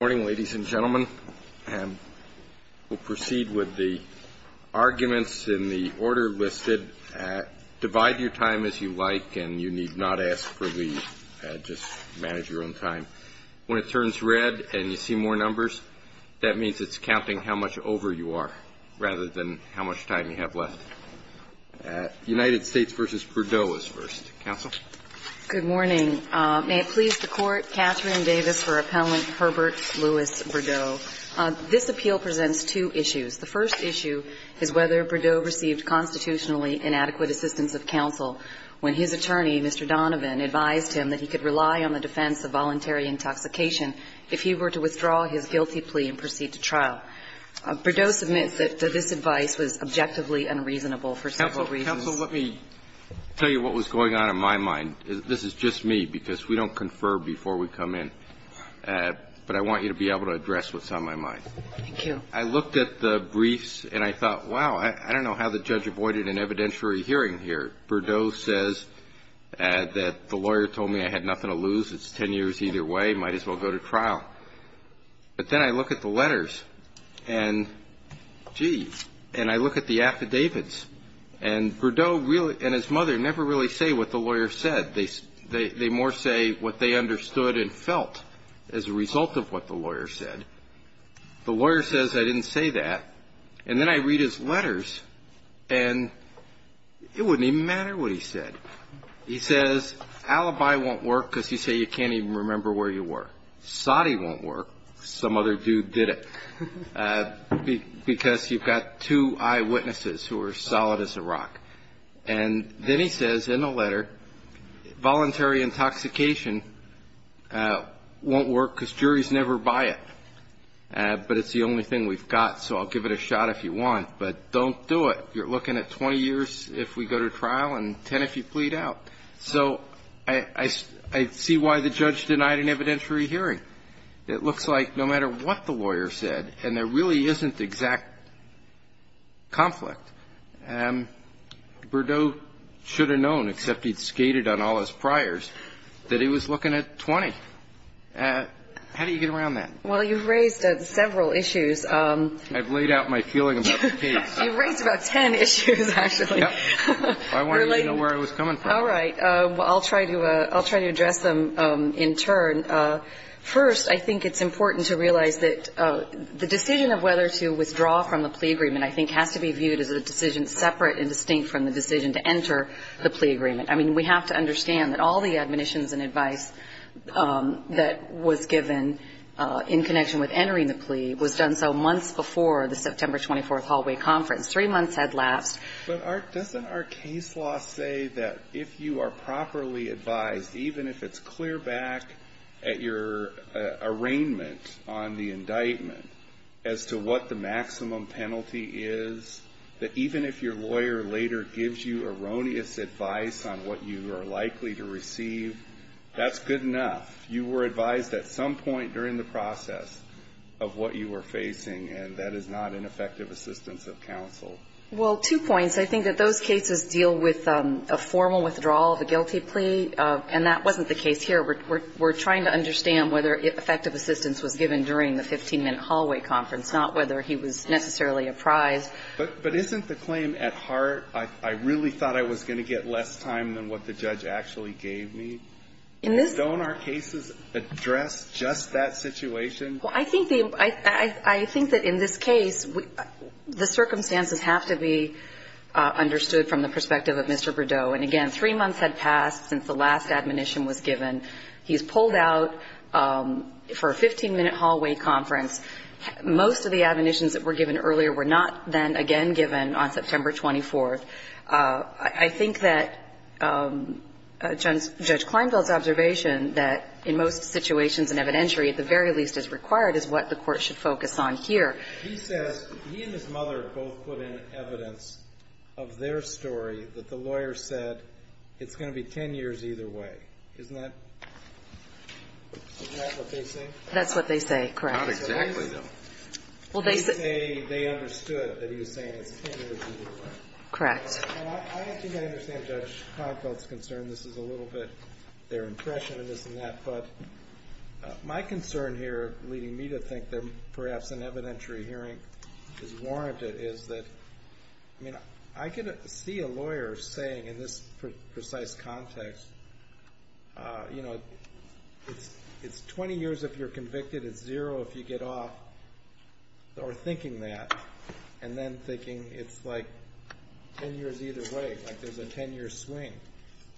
Good morning, ladies and gentlemen. We'll proceed with the arguments in the order listed. Divide your time as you like, and you need not ask for leave. Just manage your own time. When it turns red and you see more numbers, that means it's counting how much over you are rather than how much time you have left. United States v. Burdeau is first. Counsel? Good morning. May it please the Court, Katherine Davis for Appellant Herbert Louis Burdeau. This appeal presents two issues. The first issue is whether Burdeau received constitutionally inadequate assistance of counsel when his attorney, Mr. Donovan, advised him that he could rely on the defense of voluntary intoxication if he were to withdraw his guilty plea and proceed to trial. Burdeau submits that this advice was objectively unreasonable for several reasons. So let me tell you what was going on in my mind. This is just me, because we don't confer before we come in. But I want you to be able to address what's on my mind. Thank you. I looked at the briefs, and I thought, wow, I don't know how the judge avoided an evidentiary hearing here. Burdeau says that the lawyer told me I had nothing to lose. It's ten years either way. Might as well go to trial. But then I look at the letters, and, gee, and I look at the affidavits, and Burdeau and his mother never really say what the lawyer said. They more say what they understood and felt as a result of what the lawyer said. The lawyer says I didn't say that. And then I read his letters, and it wouldn't even matter what he said. He says, alibi won't work because you say you can't even remember where you were. Soddy won't work, some other dude did it, because you've got two eyewitnesses who are solid as a rock. And then he says in the letter, voluntary intoxication won't work because juries never buy it. But it's the only thing we've got, so I'll give it a shot if you want. But don't do it. You're looking at 20 years if we go to trial and ten if you plead out. So I see why the judge denied an evidentiary hearing. It looks like no matter what the lawyer said, and there really isn't exact conflict, Burdeau should have known, except he'd skated on all his priors, that he was looking at 20. How do you get around that? Well, you've raised several issues. I've laid out my feeling about the case. You've raised about ten issues, actually. I wanted to know where I was coming from. All right. I'll try to address them in turn. First, I think it's important to realize that the decision of whether to withdraw from the plea agreement, I think, has to be viewed as a decision separate and distinct from the decision to enter the plea agreement. I mean, we have to understand that all the admonitions and advice that was given in connection with entering the plea was done so months before the September 24th hallway conference. Three months had lapsed. But doesn't our case law say that if you are properly advised, even if it's clear back at your arraignment on the indictment as to what the maximum penalty is, that even if your lawyer later gives you erroneous advice on what you are likely to receive, that's good enough. You were advised at some point during the process of what you were facing, and that is not an effective assistance of counsel. Well, two points. I think that those cases deal with a formal withdrawal of a guilty plea, and that wasn't the case here. We're trying to understand whether effective assistance was given during the 15-minute hallway conference, not whether he was necessarily apprised. But isn't the claim at heart, I really thought I was going to get less time than what the judge actually gave me? In this case, don't our cases address just that situation? Well, I think that in this case, the circumstances have to be understood from the perspective of Mr. Berdeau. And again, three months had passed since the last admonition was given. He's pulled out for a 15-minute hallway conference. Most of the admonitions that were given earlier were not then again given on September 24th. I think that Judge Kleinfeld's observation that in most situations an evidentiary at the very least is required is what the Court should focus on here. He says he and his mother both put in evidence of their story that the lawyer said it's going to be 10 years either way. Isn't that what they say? That's what they say, correct. Not exactly, though. They say they understood that he was saying it's 10 years either way. Correct. I think I understand Judge Kleinfeld's concern. This is a little bit their impression of this and that. But my concern here, leading me to think that perhaps an evidentiary hearing is warranted, is that I could see a lawyer saying in this precise context, it's 20 years if you're convicted, it's zero if you get off. Or thinking that, and then thinking it's like 10 years either way, like there's a 10-year swing,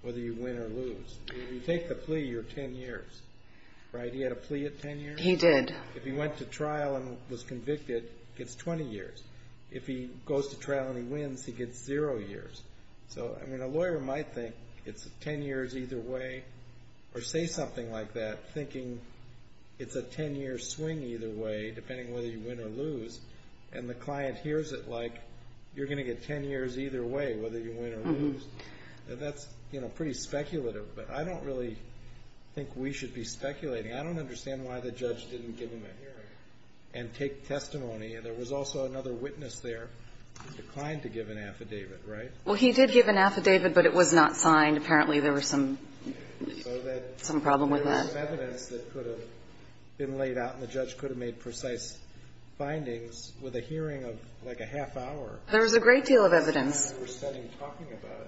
whether you win or lose. If you take the plea, you're 10 years, right? He had a plea at 10 years? He did. If he went to trial and was convicted, he gets 20 years. If he goes to trial and he wins, he gets zero years. So, I mean, a lawyer might think it's 10 years either way, or say something like that, thinking it's a 10-year swing either way, depending on whether you win or lose. And the client hears it like, you're going to get 10 years either way, whether you win or lose. That's pretty speculative. But I don't really think we should be speculating. I don't understand why the judge didn't give him a hearing and take testimony. There was also another witness there who declined to give an affidavit, right? Well, he did give an affidavit, but it was not signed. Apparently, there was some problem with that. There was some evidence that could have been laid out, and the judge could have made precise findings with a hearing of, like, a half-hour. There was a great deal of evidence.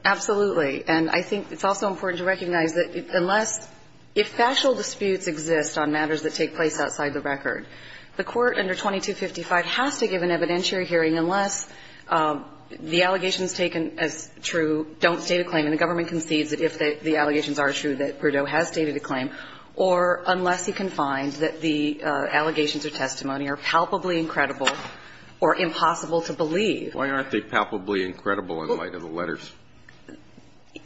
Absolutely. And I think it's also important to recognize that unless – if factual disputes exist on matters that take place outside the record, the Court under 2255 has to give an evidentiary hearing unless the allegations taken as true don't state a claim and the government concedes that if the allegations are true that Verdot has stated a claim, or unless he can find that the allegations or testimony are palpably incredible or impossible to believe. Why aren't they palpably incredible in light of the letters?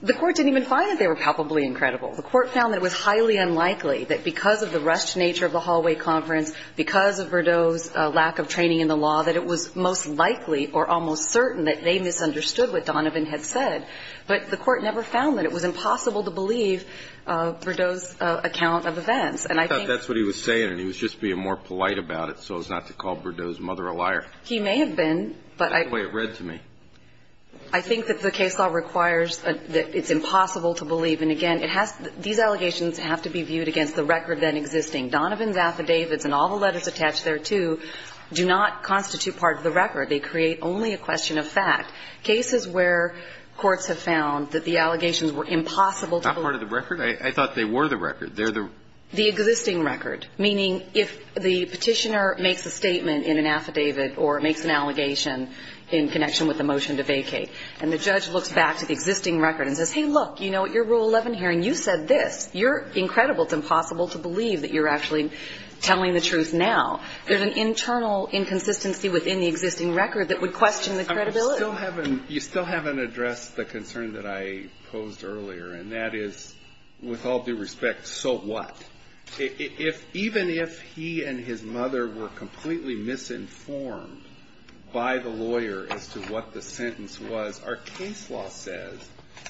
The Court didn't even find that they were palpably incredible. The Court found that it was highly unlikely that because of the rushed nature of the hallway conference, because of Verdot's lack of training in the law, that it was most likely or almost certain that they misunderstood what Donovan had said. But the Court never found that. It was impossible to believe Verdot's account of events. And I think – I thought that's what he was saying. He was just being more polite about it so as not to call Verdot's mother a liar. He may have been, but I – That's the way it read to me. I think that the case law requires that it's impossible to believe. And, again, it has – these allegations have to be viewed against the record then existing. Donovan's affidavits and all the letters attached thereto do not constitute part of the record. They create only a question of fact. Cases where courts have found that the allegations were impossible to believe – Not part of the record? I thought they were the record. They're the – The existing record, meaning if the petitioner makes a statement in an affidavit or makes an allegation in connection with a motion to vacate, and the judge looks back to the existing record and says, hey, look, you know, at your Rule 11 hearing you said this. You're incredible. It's impossible to believe that you're actually telling the truth now. There's an internal inconsistency within the existing record that would question the credibility. You still haven't addressed the concern that I posed earlier, and that is, with all due respect, so what? Even if he and his mother were completely misinformed by the lawyer as to what the sentence was, our case law says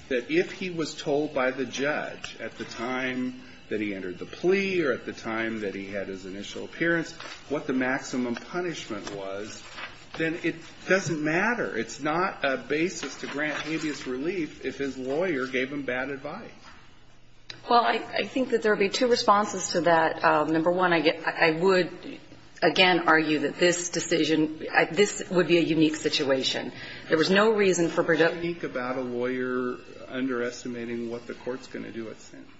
that if he was told by the judge at the time that he entered the plea or at the time that he had his initial appearance what the maximum punishment was, then it doesn't matter. It's not a basis to grant habeas relief if his lawyer gave him bad advice. Well, I think that there would be two responses to that. Number one, I would, again, argue that this decision – this would be a unique situation. There was no reason for Brideau – Why speak about a lawyer underestimating what the Court's going to do with sentences?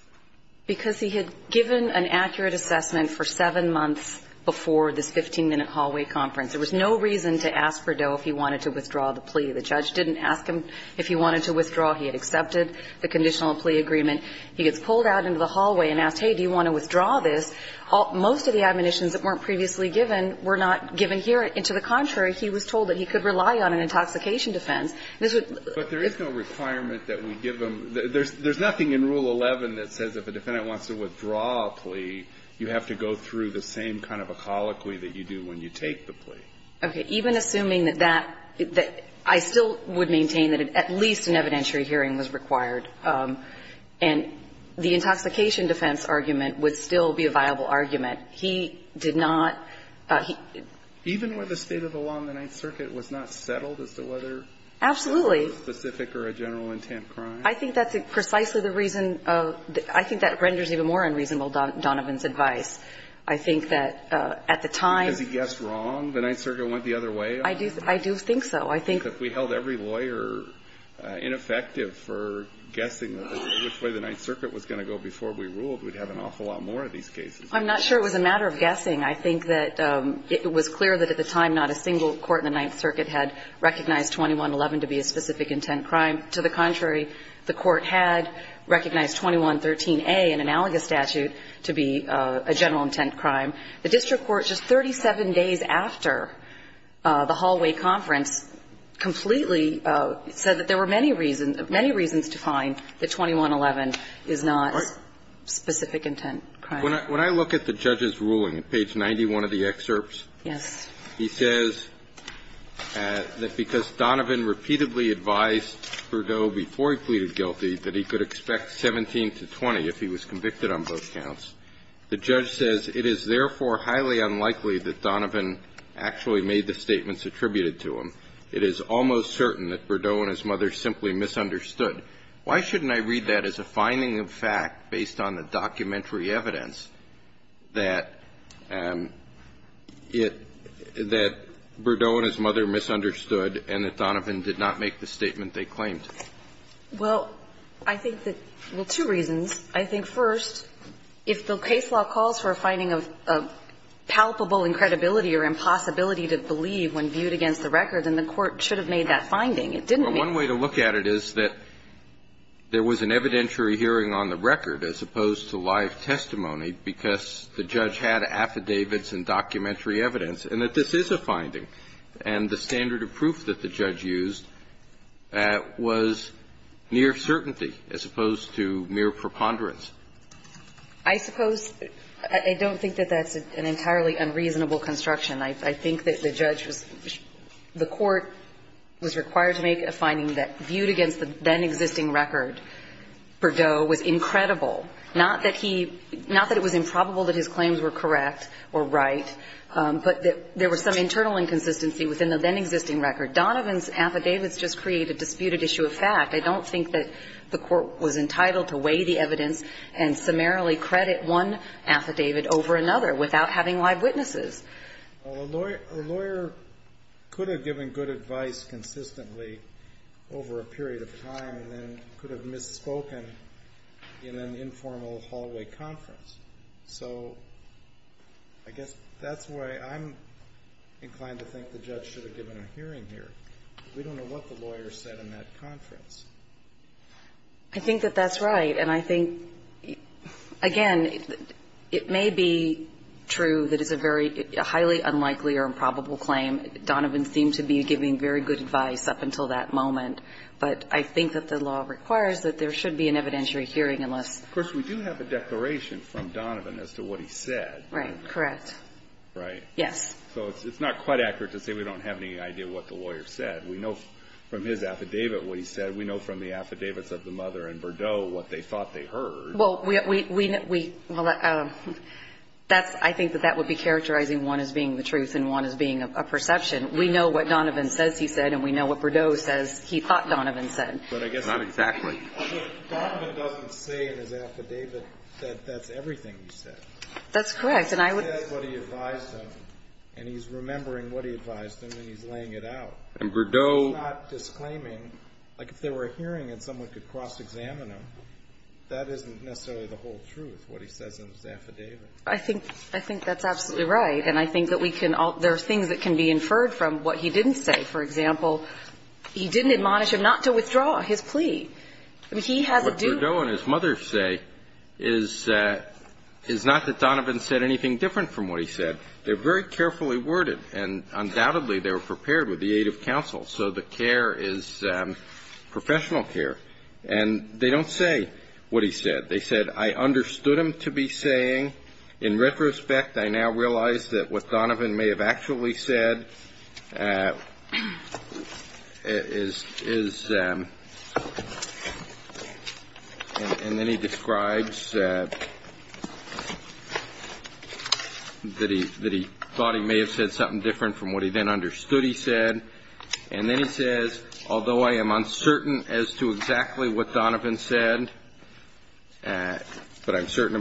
Because he had given an accurate assessment for seven months before this 15-minute hallway conference. There was no reason to ask Brideau if he wanted to withdraw the plea. The judge didn't ask him if he wanted to withdraw. He had accepted the conditional plea agreement. He gets pulled out into the hallway and asked, hey, do you want to withdraw this? Most of the admonitions that weren't previously given were not given here. And to the contrary, he was told that he could rely on an intoxication defense. This would – But there is no requirement that we give him – there's nothing in Rule 11 that says if a defendant wants to withdraw a plea, you have to go through the same kind of a colloquy that you do when you take the plea. Okay. Even assuming that that – that I still would maintain that at least an evidentiary hearing was required. And the intoxication defense argument would still be a viable argument. He did not – he – Even where the state of the law in the Ninth Circuit was not settled as to whether – Absolutely. – it was a specific or a general intent crime? I think that's precisely the reason of – I think that renders even more unreasonable Donovan's advice. I think that at the time – Because he guessed wrong, the Ninth Circuit went the other way? I do – I do think so. I think – Because if we held every lawyer ineffective for guessing which way the Ninth Circuit was going to go before we ruled, we'd have an awful lot more of these cases. I'm not sure it was a matter of guessing. I think that it was clear that at the time not a single court in the Ninth Circuit had recognized 2111 to be a specific intent crime. To the contrary, the Court had recognized 2113a, an analogous statute, to be a general intent crime. The district court just 37 days after the hallway conference completely said that there were many reasons – many reasons to find that 2111 is not a specific intent crime. When I look at the judge's ruling, page 91 of the excerpts, he says that because Donovan repeatedly advised Verdot before he pleaded guilty that he could expect 17 to 20 if he was convicted on both counts. The judge says, it is therefore highly unlikely that Donovan actually made the statements attributed to him. It is almost certain that Verdot and his mother simply misunderstood. Why shouldn't I read that as a finding of fact based on the documentary evidence that it – that Verdot and his mother misunderstood and that Donovan did not make the statement they claimed? Well, I think that – well, two reasons. I think, first, if the case law calls for a finding of palpable incredibility or impossibility to believe when viewed against the record, then the court should have made that finding. It didn't make it. Well, one way to look at it is that there was an evidentiary hearing on the record as opposed to live testimony because the judge had affidavits and documentary evidence, and that this is a finding. And the standard of proof that the judge used was mere certainty as opposed to mere preponderance. I suppose – I don't think that that's an entirely unreasonable construction. I think that the judge was – the court was required to make a finding that viewed against the then-existing record, Verdot was incredible. Not that he – not that it was improbable that his claims were correct or right, but that there was some internal inconsistency within the then-existing record. Donovan's affidavits just create a disputed issue of fact. I don't think that the court was entitled to weigh the evidence and summarily credit one affidavit over another without having live witnesses. Well, a lawyer could have given good advice consistently over a period of time and then could have misspoken in an informal hallway conference. So I guess that's why I'm inclined to think the judge should have given a hearing here. We don't know what the lawyer said in that conference. I think that that's right. And I think, again, it may be true that it's a very – a highly unlikely or improbable claim. Donovan seemed to be giving very good advice up until that moment. But I think that the law requires that there should be an evidentiary hearing unless – Of course, we do have a declaration from Donovan as to what he said. Right. Correct. Right. Yes. So it's not quite accurate to say we don't have any idea what the lawyer said. We know from his affidavit what he said. We know from the affidavits of the mother and Berdeau what they thought they heard. Well, we – well, that's – I think that that would be characterizing one as being the truth and one as being a perception. We know what Donovan says he said and we know what Berdeau says he thought Donovan said. But I guess – Not exactly. But Donovan doesn't say in his affidavit that that's everything he said. That's correct. And I would – He said what he advised him and he's remembering what he advised him and he's laying it out. And Berdeau – He's not disclaiming – like, if there were a hearing and someone could cross-examine him, that isn't necessarily the whole truth, what he says in his affidavit. I think – I think that's absolutely right. And I think that we can – there are things that can be inferred from what he didn't say. For example, he didn't admonish him not to withdraw his plea. I mean, he has a due – What Berdeau and his mother say is – is not that Donovan said anything different from what he said. They're very carefully worded and undoubtedly they were prepared with the aid of counsel. So the care is professional care. And they don't say what he said. They said, I understood him to be saying. In retrospect, I now realize that what Donovan may have actually said is – is – and then he describes that he – that he thought he may have said something different from what he then understood he said. And then he says, although I am uncertain as to exactly what Donovan said, but I'm thinking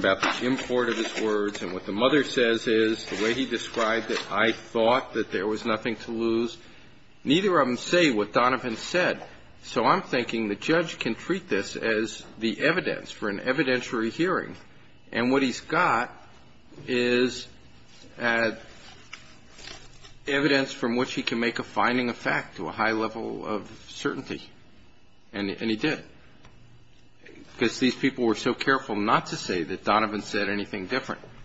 the judge can treat this as the evidence for an evidentiary hearing. And what he's got is evidence from which he can make a finding of fact to a high level of certainty. And he did. Because these people were so careful not to say that Donovan said anything different. And he did. And he did.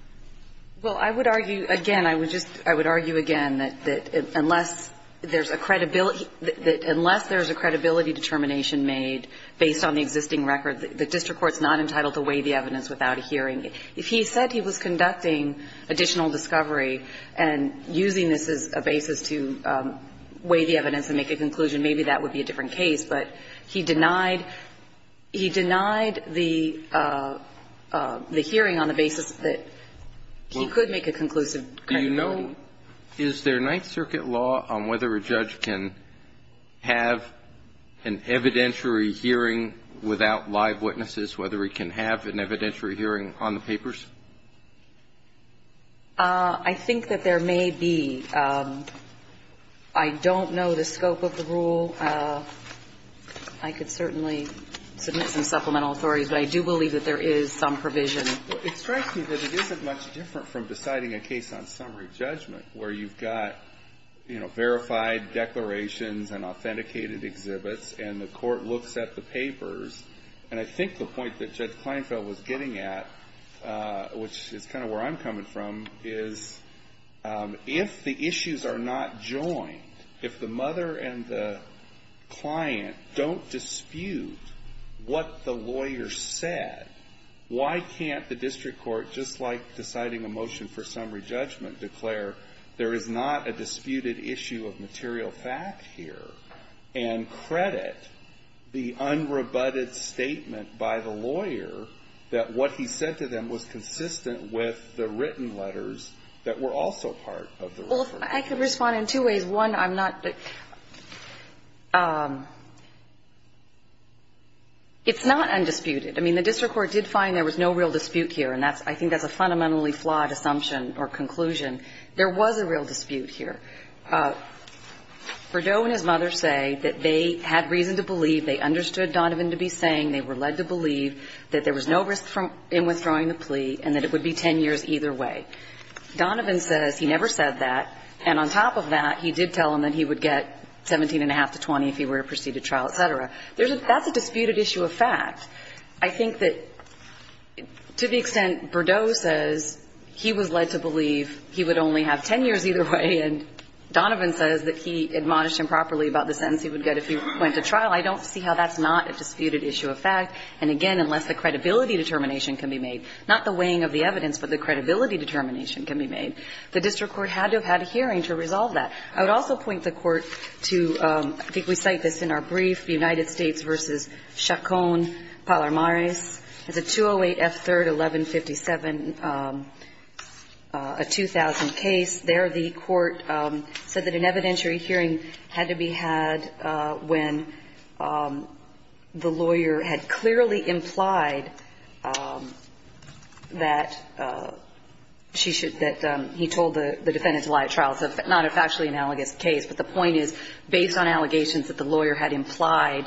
Well, I would argue – again, I would just – I would argue again that unless there's a credibility – that unless there's a credibility determination made based on the existing record, the district court's not entitled to weigh the evidence without a hearing. If he said he was conducting additional discovery and using this as a basis to weigh the evidence and make a conclusion, maybe that would be a different case. But he denied – he denied the hearing on the basis that he could make a conclusive credibility. Do you know – is there Ninth Circuit law on whether a judge can have an evidentiary hearing without live witnesses, whether he can have an evidentiary hearing on the papers? I think that there may be. I don't know the scope of the rule. I could certainly submit some supplemental authorities. But I do believe that there is some provision. It strikes me that it isn't much different from deciding a case on summary judgment where you've got, you know, verified declarations and authenticated exhibits and the court looks at the papers. And I think the point that Judge Kleinfeld was getting at, which is kind of where I'm coming from, is if the issues are not joined, if the mother and the father client don't dispute what the lawyer said, why can't the district court, just like deciding a motion for summary judgment, declare there is not a disputed issue of material fact here and credit the unrebutted statement by the lawyer that what he said to them was consistent with the written letters that were also part of the referral? I could respond in two ways. One, I'm not the – it's not undisputed. I mean, the district court did find there was no real dispute here, and I think that's a fundamentally flawed assumption or conclusion. There was a real dispute here. Verdot and his mother say that they had reason to believe, they understood Donovan to be saying, they were led to believe that there was no risk in withdrawing the plea and that it would be 10 years either way. Donovan says he never said that, and on top of that, he did tell them that he would get 17 and a half to 20 if he were to proceed to trial, et cetera. That's a disputed issue of fact. I think that, to the extent Verdot says he was led to believe he would only have 10 years either way, and Donovan says that he admonished him properly about the sentence he would get if he went to trial, I don't see how that's not a disputed issue of fact, and again, unless the credibility determination can be made, not the weighing of the evidence, but the credibility determination can be made, the district court had to have had a hearing to resolve that. I would also point the Court to, I think we cite this in our brief, United States v. Chacon-Palmares. It's a 208 F. 3rd, 1157, a 2000 case. There, the Court said that an evidentiary hearing had to be had when the lawyer had clearly implied that he told the defendant to lie at trial. It's not a factually analogous case, but the point is, based on allegations that the lawyer had implied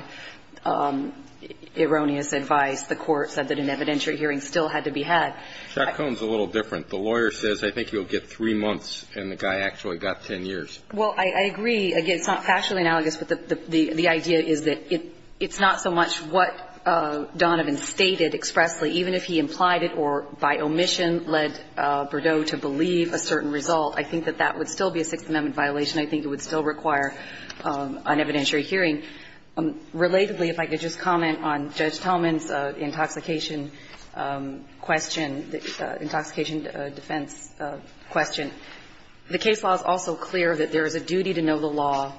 erroneous advice, the Court said that an evidentiary hearing still had to be had. Chacon's a little different. The lawyer says, I think you'll get three months, and the guy actually got 10 years. Well, I agree. Again, it's not factually analogous, but the idea is that it's not so much what Donovan stated expressly, even if he implied it or, by omission, led Berdow to believe a certain result. I think that that would still be a Sixth Amendment violation. I think it would still require an evidentiary hearing. Relatedly, if I could just comment on Judge Talman's intoxication question, intoxication defense question. The case law is also clear that there is a duty to know the law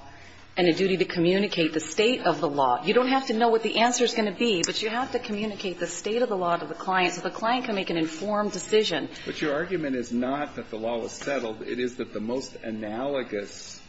and a duty to communicate the state of the law. You don't have to know what the answer is going to be, but you have to communicate the state of the law to the client so the client can make an informed decision. But your argument is not that the law was settled. It is that the most analogous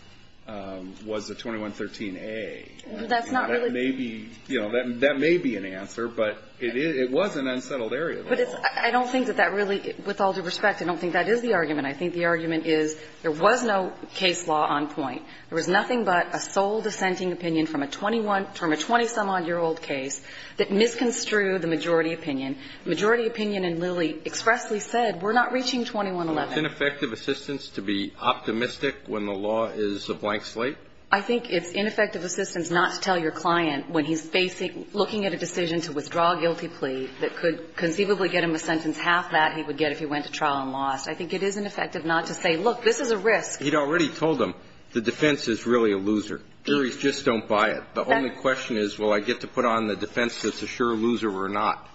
was the 2113a. That's not really the case. That may be, you know, that may be an answer, but it was an unsettled area. But it's – I don't think that that really – with all due respect, I don't think that is the argument. I think the argument is there was no case law on point. There was nothing but a sole dissenting opinion from a 21 – from a 20-some-odd-year-old case that misconstrued the majority opinion. The majority opinion in Lilly expressly said, we're not reaching 2111. Is it ineffective assistance to be optimistic when the law is a blank slate? I think it's ineffective assistance not to tell your client when he's facing – looking at a decision to withdraw a guilty plea that could conceivably get him a sentence half that he would get if he went to trial and lost. I think it is ineffective not to say, look, this is a risk. He'd already told them the defense is really a loser. Juries just don't buy it. The only question is, will I get to put on the defense that's a sure loser or not?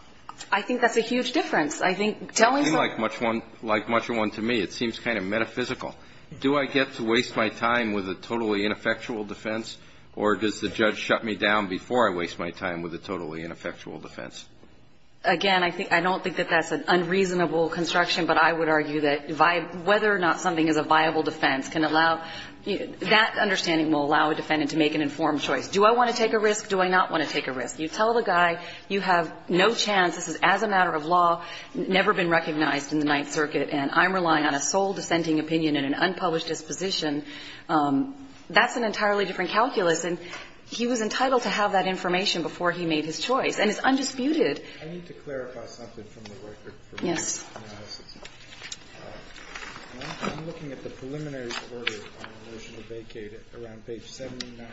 I think that's a huge difference. I think – Like much of one to me, it seems kind of metaphysical. Do I get to waste my time with a totally ineffectual defense, or does the judge shut me down before I waste my time with a totally ineffectual defense? Again, I don't think that that's an unreasonable construction, but I would argue that whether or not something is a viable defense can allow – that understanding will allow a defendant to make an informed choice. Do I want to take a risk? Do I not want to take a risk? You tell the guy you have no chance, this is as a matter of law, never been recognized in the Ninth Circuit, and I'm relying on a sole dissenting opinion and an unpublished disposition, that's an entirely different calculus. And he was entitled to have that information before he made his choice. And it's undisputed. I need to clarify something from the record. Yes. I'm looking at the preliminary order on the motion to vacate it around page 79.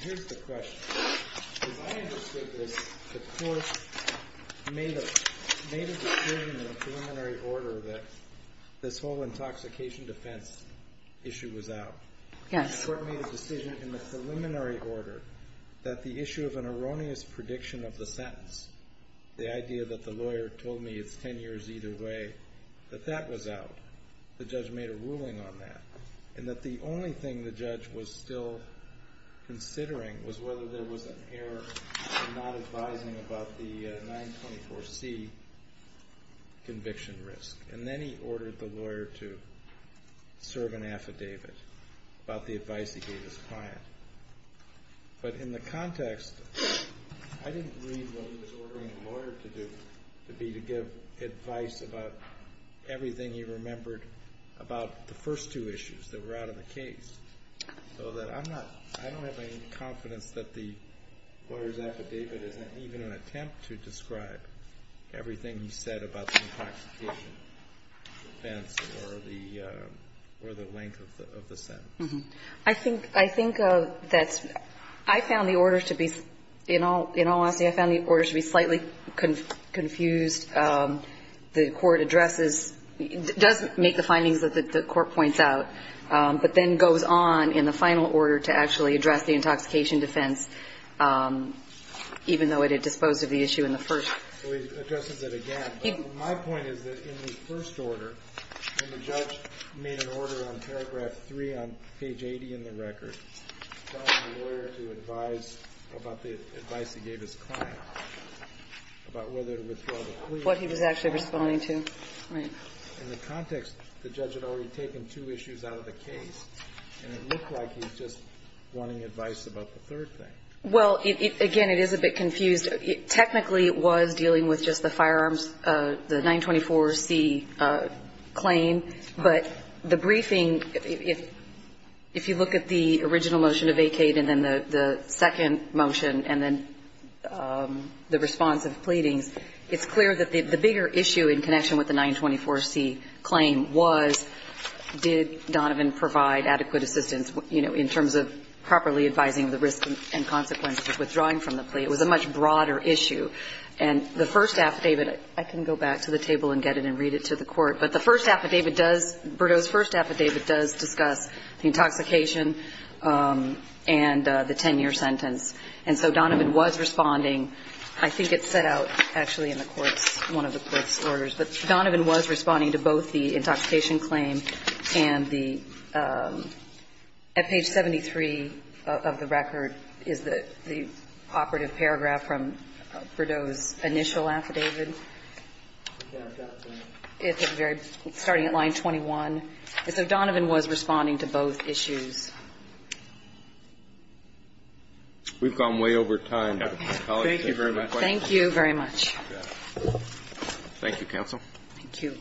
Here's the question. As I understood this, the court made a decision in the preliminary order that this whole intoxication defense issue was out. Yes. The court made a decision in the preliminary order that the issue of an erroneous prediction of the sentence, the idea that the lawyer told me it's ten years either way, that that was out. The judge made a ruling on that. And that the only thing the judge was still considering was whether there was an error in not advising about the 924C conviction risk. And then he ordered the lawyer to serve an affidavit about the advice he gave his client. But in the context, I didn't read what he was ordering the lawyer to do to be to give advice about everything he remembered about the first two issues that were out of the case. So I don't have any confidence that the lawyer's affidavit is even an attempt to describe everything he said about the intoxication defense or the length of the sentence. I think that's, I found the order to be, in all honesty, I found the order to be slightly confused. The court addresses, does make the findings that the court points out, but then goes on in the final order to actually address the intoxication defense, even though it had disposed of the issue in the first. So he addresses it again. My point is that in the first order, when the judge made an order on paragraph 3 on page 80 in the record, telling the lawyer to advise about the advice he gave his client about whether to withdraw the plea. What he was actually responding to. Right. In the context, the judge had already taken two issues out of the case. And it looked like he was just wanting advice about the third thing. Well, again, it is a bit confused. Technically, it was dealing with just the firearms, the 924C claim. But the briefing, if you look at the original motion to vacate and then the second motion and then the response of pleadings, it's clear that the bigger issue in connection with the 924C claim was, did Donovan provide adequate assistance, you know, in terms of properly advising of the risk and consequences of withdrawing from the plea. It was a much broader issue. And the first affidavit, I can go back to the table and get it and read it to the court, but the first affidavit does, Birdo's first affidavit does discuss the intoxication and the 10-year sentence. And so Donovan was responding. I think it's set out actually in the court's, one of the court's orders. But Donovan was responding to both the intoxication claim and the, at page 73 of the record is the operative paragraph from Birdo's initial affidavit. It's starting at line 21. And so Donovan was responding to both issues. We've gone way over time. Thank you very much. Thank you very much. Thank you, counsel. Thank you.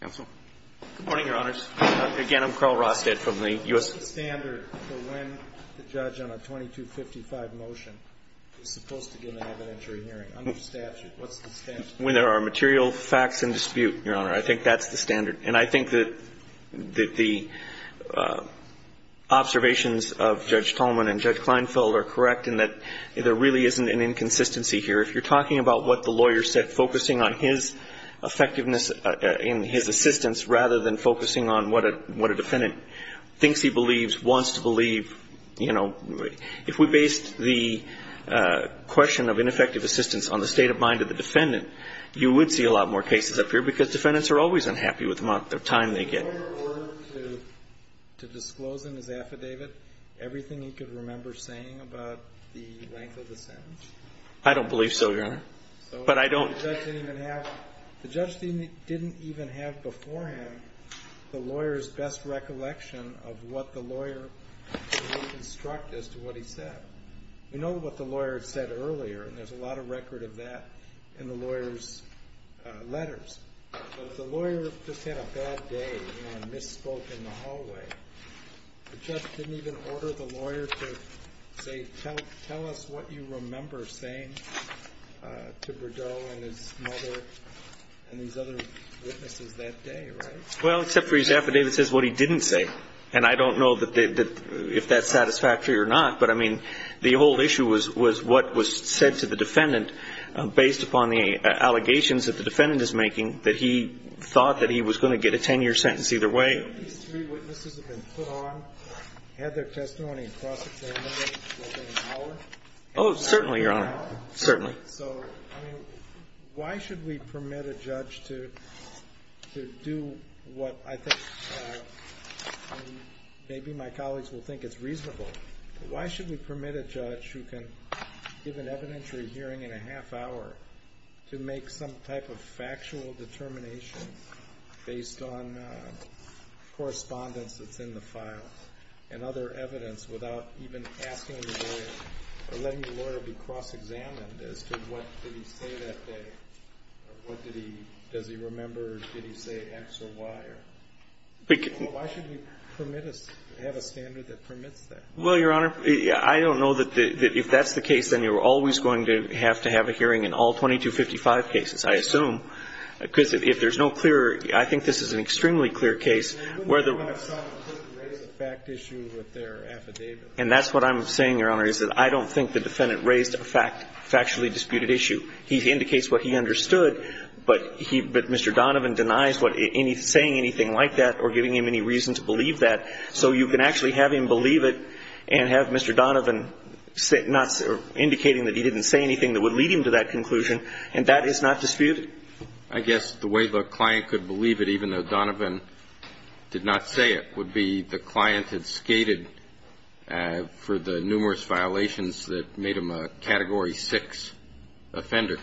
Counsel. Good morning, Your Honors. Again, I'm Carl Rosted from the U.S. What's the standard for when the judge on a 2255 motion is supposed to give an evidentiary hearing under statute? What's the standard? When there are material facts in dispute, Your Honor, I think that's the standard. And I think that the observations of Judge Tolman and Judge Kleinfeld are correct in that there really isn't an inconsistency here. If you're talking about what the lawyer said, focusing on his effectiveness and his assistance rather than focusing on what a defendant thinks he believes, wants to believe, you know, if we based the question of ineffective assistance on the state of mind of the defendant, you would see a lot more cases up here because defendants are always unhappy with the amount of time they get. In order to disclose in his affidavit everything he could remember saying about the length of the sentence? I don't believe so, Your Honor. But I don't. The judge didn't even have beforehand the lawyer's best recollection of what the lawyer would construct as to what he said. We know what the lawyer said earlier, and there's a lot of record of that in the lawyer's letters. But if the lawyer just had a bad day and misspoke in the hallway, the judge didn't even order the lawyer to say, tell us what you remember saying to Brideau and his mother and these other witnesses that day, right? Well, except for his affidavit says what he didn't say. And I don't know if that's satisfactory or not. But, I mean, the whole issue was what was said to the defendant based upon the opinion that he thought that he was going to get a 10-year sentence either way. So these three witnesses have been put on, had their testimony and prosecuted within an hour? Oh, certainly, Your Honor, certainly. So, I mean, why should we permit a judge to do what I think maybe my colleagues will think is reasonable? Why should we permit a judge who can give an evidentiary hearing in a half hour to make some type of factual determination based on correspondence that's in the file and other evidence without even asking the lawyer or letting the lawyer be cross examined as to what did he say that day or what did he, does he remember, did he say X or Y? Why should we permit a, have a standard that permits that? Well, Your Honor, I don't know that if that's the case, then you're always going to have to have a hearing in all 2255 cases, I assume. Because if there's no clear, I think this is an extremely clear case where the You're going to have someone raise a fact issue with their affidavit. And that's what I'm saying, Your Honor, is that I don't think the defendant raised a fact, factually disputed issue. He indicates what he understood, but he, but Mr. Donovan denies what any, saying anything like that or giving him any reason to believe that. So you can actually have him believe it and have Mr. Donovan say, not, indicating that he didn't say anything that would lead him to that conclusion. And that is not disputed. I guess the way the client could believe it, even though Donovan did not say it, would be the client had skated for the numerous violations that made him a Category 6 offender.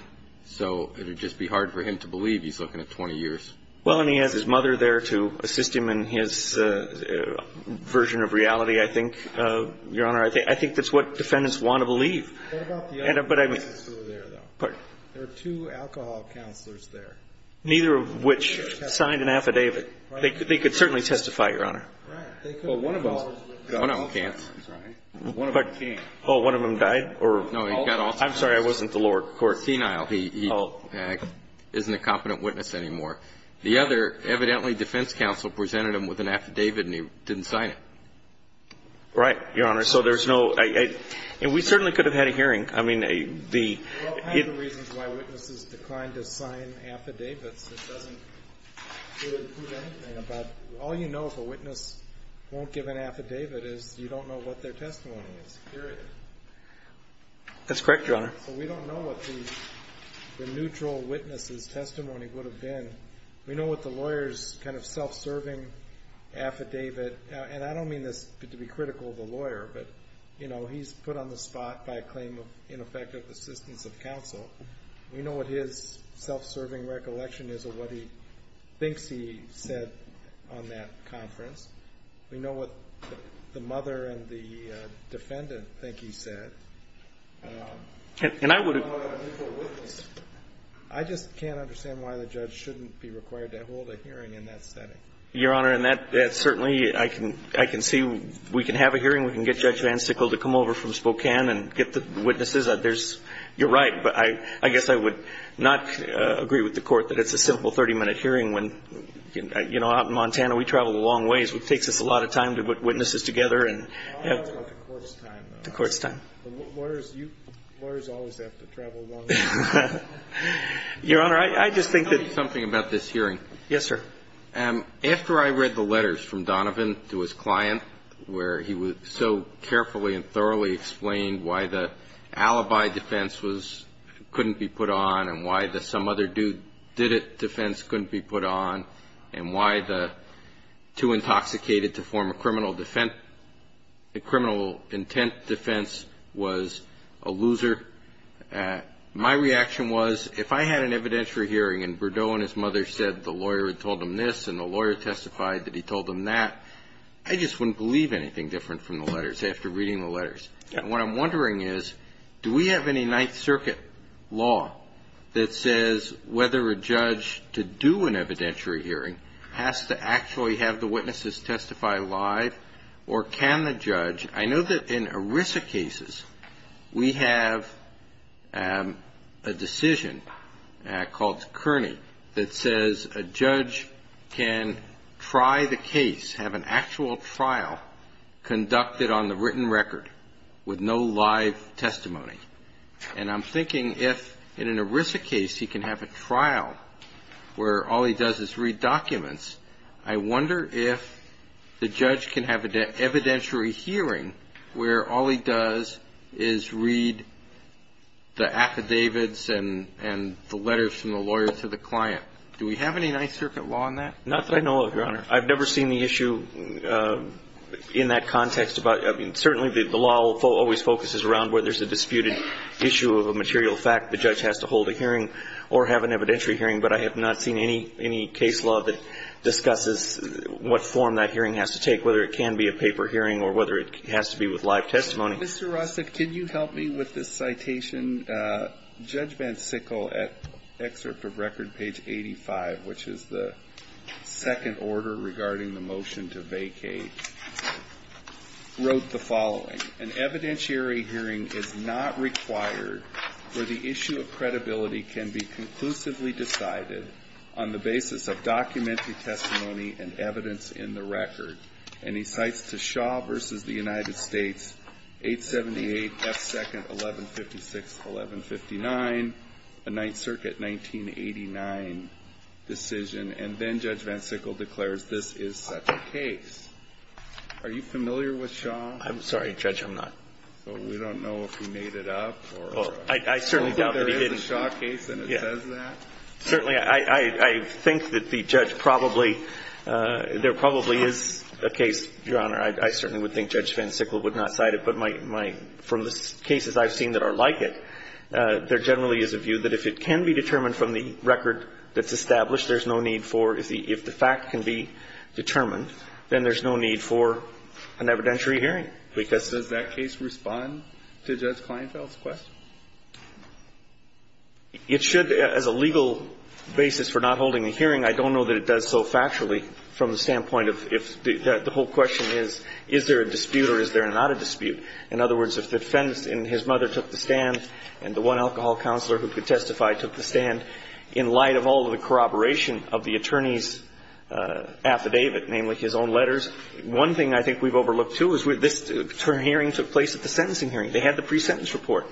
So it would just be hard for him to believe he's looking at 20 years. Well, and he has his mother there to assist him in his version of reality, I think, Your Honor. I think that's what defendants want to believe. What about the other defendants who were there, though? Pardon? There were two alcohol counselors there. Neither of which signed an affidavit. They could certainly testify, Your Honor. Right. Well, one of them. One of them can't. Right. One of them can't. Oh, one of them died or? No, he got all. I'm sorry. I wasn't the lower court. He's a senile. He isn't a competent witness anymore. The other evidently defense counsel presented him with an affidavit and he didn't sign it. Right, Your Honor. So there's no. And we certainly could have had a hearing. I mean, the. One of the reasons why witnesses declined to sign affidavits, it doesn't prove anything. All you know if a witness won't give an affidavit is you don't know what their testimony is, period. That's correct, Your Honor. So we don't know what the neutral witness's testimony would have been. We know what the lawyer's kind of self-serving affidavit, and I don't mean this to be critical of the lawyer, but, you know, he's put on the spot by a claim of ineffective assistance of counsel. We know what his self-serving recollection is of what he thinks he said on that conference. We know what the mother and the defendant think he said. And I would. I just can't understand why the judge shouldn't be required to hold a hearing in that setting. Your Honor, and that certainly I can see. We can have a hearing. We can get Judge Van Sickle to come over from Spokane and get the witnesses. You're right, but I guess I would not agree with the Court that it's a simple 30-minute hearing when, you know, out in Montana, we travel a long ways. It takes us a lot of time to put witnesses together. I'm talking about the Court's time, though. The Court's time. Lawyers always have to travel a long way. Your Honor, I just think that. Tell me something about this hearing. Yes, sir. After I read the letters from Donovan to his client where he so carefully and thoroughly explained why the alibi defense couldn't be put on and why the some-other-did-it defense couldn't be put on and why the too-intoxicated-to-form-a- criminal intent defense was a loser, my reaction was, if I had an evidentiary hearing and Berdeau and his mother said the lawyer had told them this and the lawyer testified that he told them that, I just wouldn't believe anything different from the letters after reading the letters. And what I'm wondering is, do we have any Ninth Circuit law that says whether a judge to do an evidentiary hearing has to actually have the witnesses testify live, or can the judge? I know that in ERISA cases, we have a decision called Kearney that says a judge can try the case, have an actual trial conducted on the written record with no live testimony. And I'm thinking if in an ERISA case he can have a trial where all he does is read the affidavits and the letters from the lawyer to the client. Do we have any Ninth Circuit law on that? Not that I know of, Your Honor. I've never seen the issue in that context. I mean, certainly the law always focuses around where there's a disputed issue of a material fact, the judge has to hold a hearing or have an evidentiary hearing, but I have not seen any case law that discusses what form that hearing has to take, whether it can be a paper hearing or whether it can be a written hearing. It has to be with live testimony. Mr. Russett, can you help me with this citation? Judge Van Sickle, at excerpt of record page 85, which is the second order regarding the motion to vacate, wrote the following. An evidentiary hearing is not required where the issue of credibility can be conclusively decided on the basis of documentary testimony and evidence in the record. And he cites to Shaw v. The United States, 878 F. 2nd, 1156-1159, a Ninth Circuit 1989 decision, and then Judge Van Sickle declares this is such a case. Are you familiar with Shaw? I'm sorry, Judge. I'm not. So we don't know if he made it up? I certainly doubt that he did. So there is a Shaw case and it says that? Certainly. I think that the judge probably, there probably is a case, Your Honor. I certainly would think Judge Van Sickle would not cite it. But from the cases I've seen that are like it, there generally is a view that if it can be determined from the record that's established, there's no need for, if the fact can be determined, then there's no need for an evidentiary hearing. Does that case respond to Judge Kleinfeld's question? It should. As a legal basis for not holding a hearing, I don't know that it does so factually from the standpoint of if the whole question is, is there a dispute or is there not a dispute? In other words, if the defendant and his mother took the stand and the one alcohol counselor who could testify took the stand in light of all of the corroboration of the attorney's affidavit, namely his own letters, one thing I think we've overlooked too is where this hearing took place at the sentencing hearing. They had the pre-sentence report,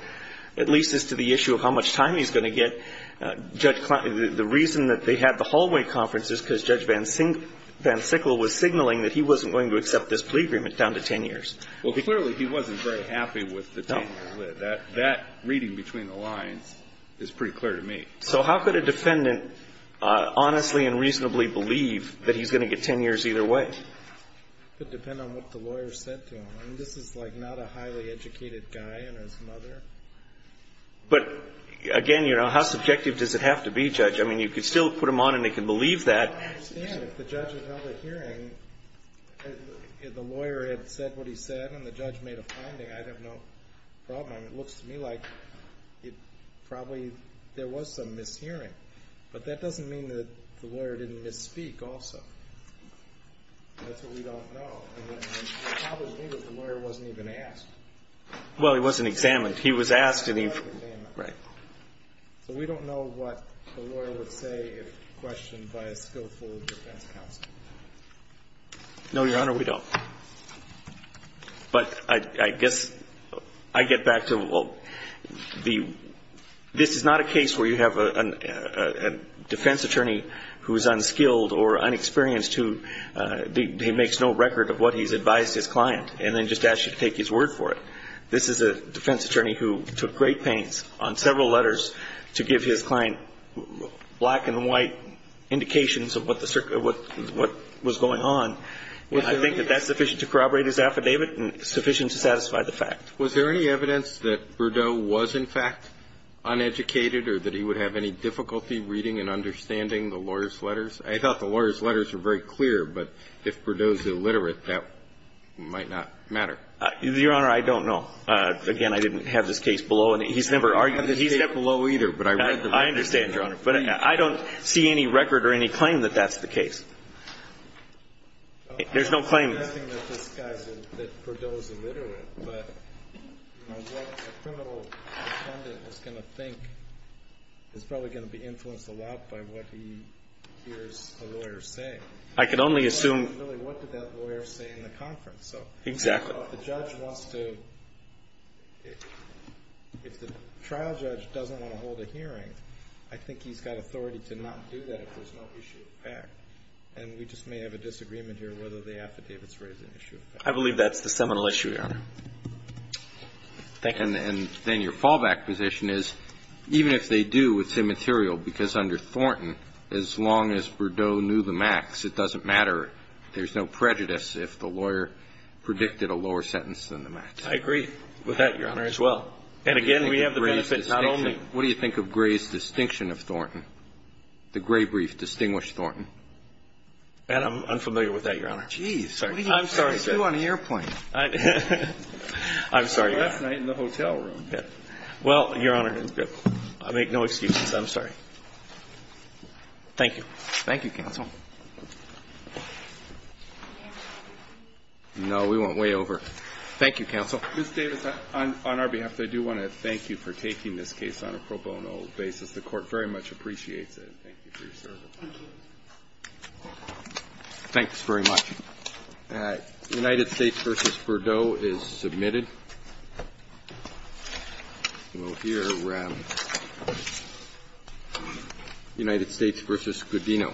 at least as to the issue of how much time he's going to get. The reason that they had the hallway conference is because Judge Van Sickle was signaling that he wasn't going to accept this plea agreement down to 10 years. Well, clearly he wasn't very happy with the 10-year plea. That reading between the lines is pretty clear to me. So how could a defendant honestly and reasonably believe that he's going to get 10 years either way? It would depend on what the lawyer said to him. I mean, this is like not a highly educated guy and his mother. But again, you know, how subjective does it have to be, Judge? I mean, you could still put him on and they can believe that. I understand if the judge had held a hearing and the lawyer had said what he said and the judge made a finding, I'd have no problem. It looks to me like it probably, there was some mishearing. But that doesn't mean that the lawyer didn't misspeak also. That's what we don't know. And it probably means that the lawyer wasn't even asked. Well, he wasn't examined. He was asked. Right. So we don't know what the lawyer would say if questioned by a skillful defense counsel. No, Your Honor, we don't. But I guess I get back to, well, this is not a case where you have a defense attorney who is unskilled or unexperienced who makes no record of what he's advised his client and then just asks you to take his word for it. This is a defense attorney who took great pains on several letters to give his client black and white indications of what was going on. And I think that that's sufficient to corroborate his affidavit and sufficient to satisfy the fact. Was there any evidence that Burdeaux was, in fact, uneducated or that he would have any difficulty reading and understanding the lawyer's letters? I thought the lawyer's letters were very clear. But if Burdeaux is illiterate, that might not matter. Your Honor, I don't know. Again, I didn't have this case below. He's never argued that he's illiterate. I understand, Your Honor. But I don't see any record or any claim that that's the case. There's no claim. I'm not saying that Burdeaux is illiterate, but what a criminal defendant is going to think is probably going to be influenced a lot by what he hears a lawyer say. I can only assume. Really, what did that lawyer say in the conference? Exactly. If the trial judge doesn't want to hold a hearing, I think he's got authority to not do that if there's no issue of fact. And we just may have a disagreement here whether the affidavits raise an issue of fact. I believe that's the seminal issue, Your Honor. Thank you. And then your fallback position is even if they do, it's immaterial because under Thornton, as long as Burdeaux knew the max, it doesn't matter. There's no prejudice if the lawyer predicted a lower sentence than the max. I agree with that, Your Honor, as well. And again, we have the benefit not only... What do you think of Gray's distinction of Thornton? The Gray brief distinguished Thornton. And I'm unfamiliar with that, Your Honor. Geez. I'm sorry, sir. What do you do on an airplane? I'm sorry, Your Honor. Last night in the hotel room. Well, Your Honor, I make no excuses. I'm sorry. Thank you. Thank you, counsel. No, we went way over. Thank you, counsel. Ms. Davis, on our behalf, I do want to thank you for taking this case on a pro bono basis. The Court very much appreciates it. Thank you for your service. Thanks very much. United States v. Burdeaux is submitted. We'll hear from United States v. Scudino. Thank you.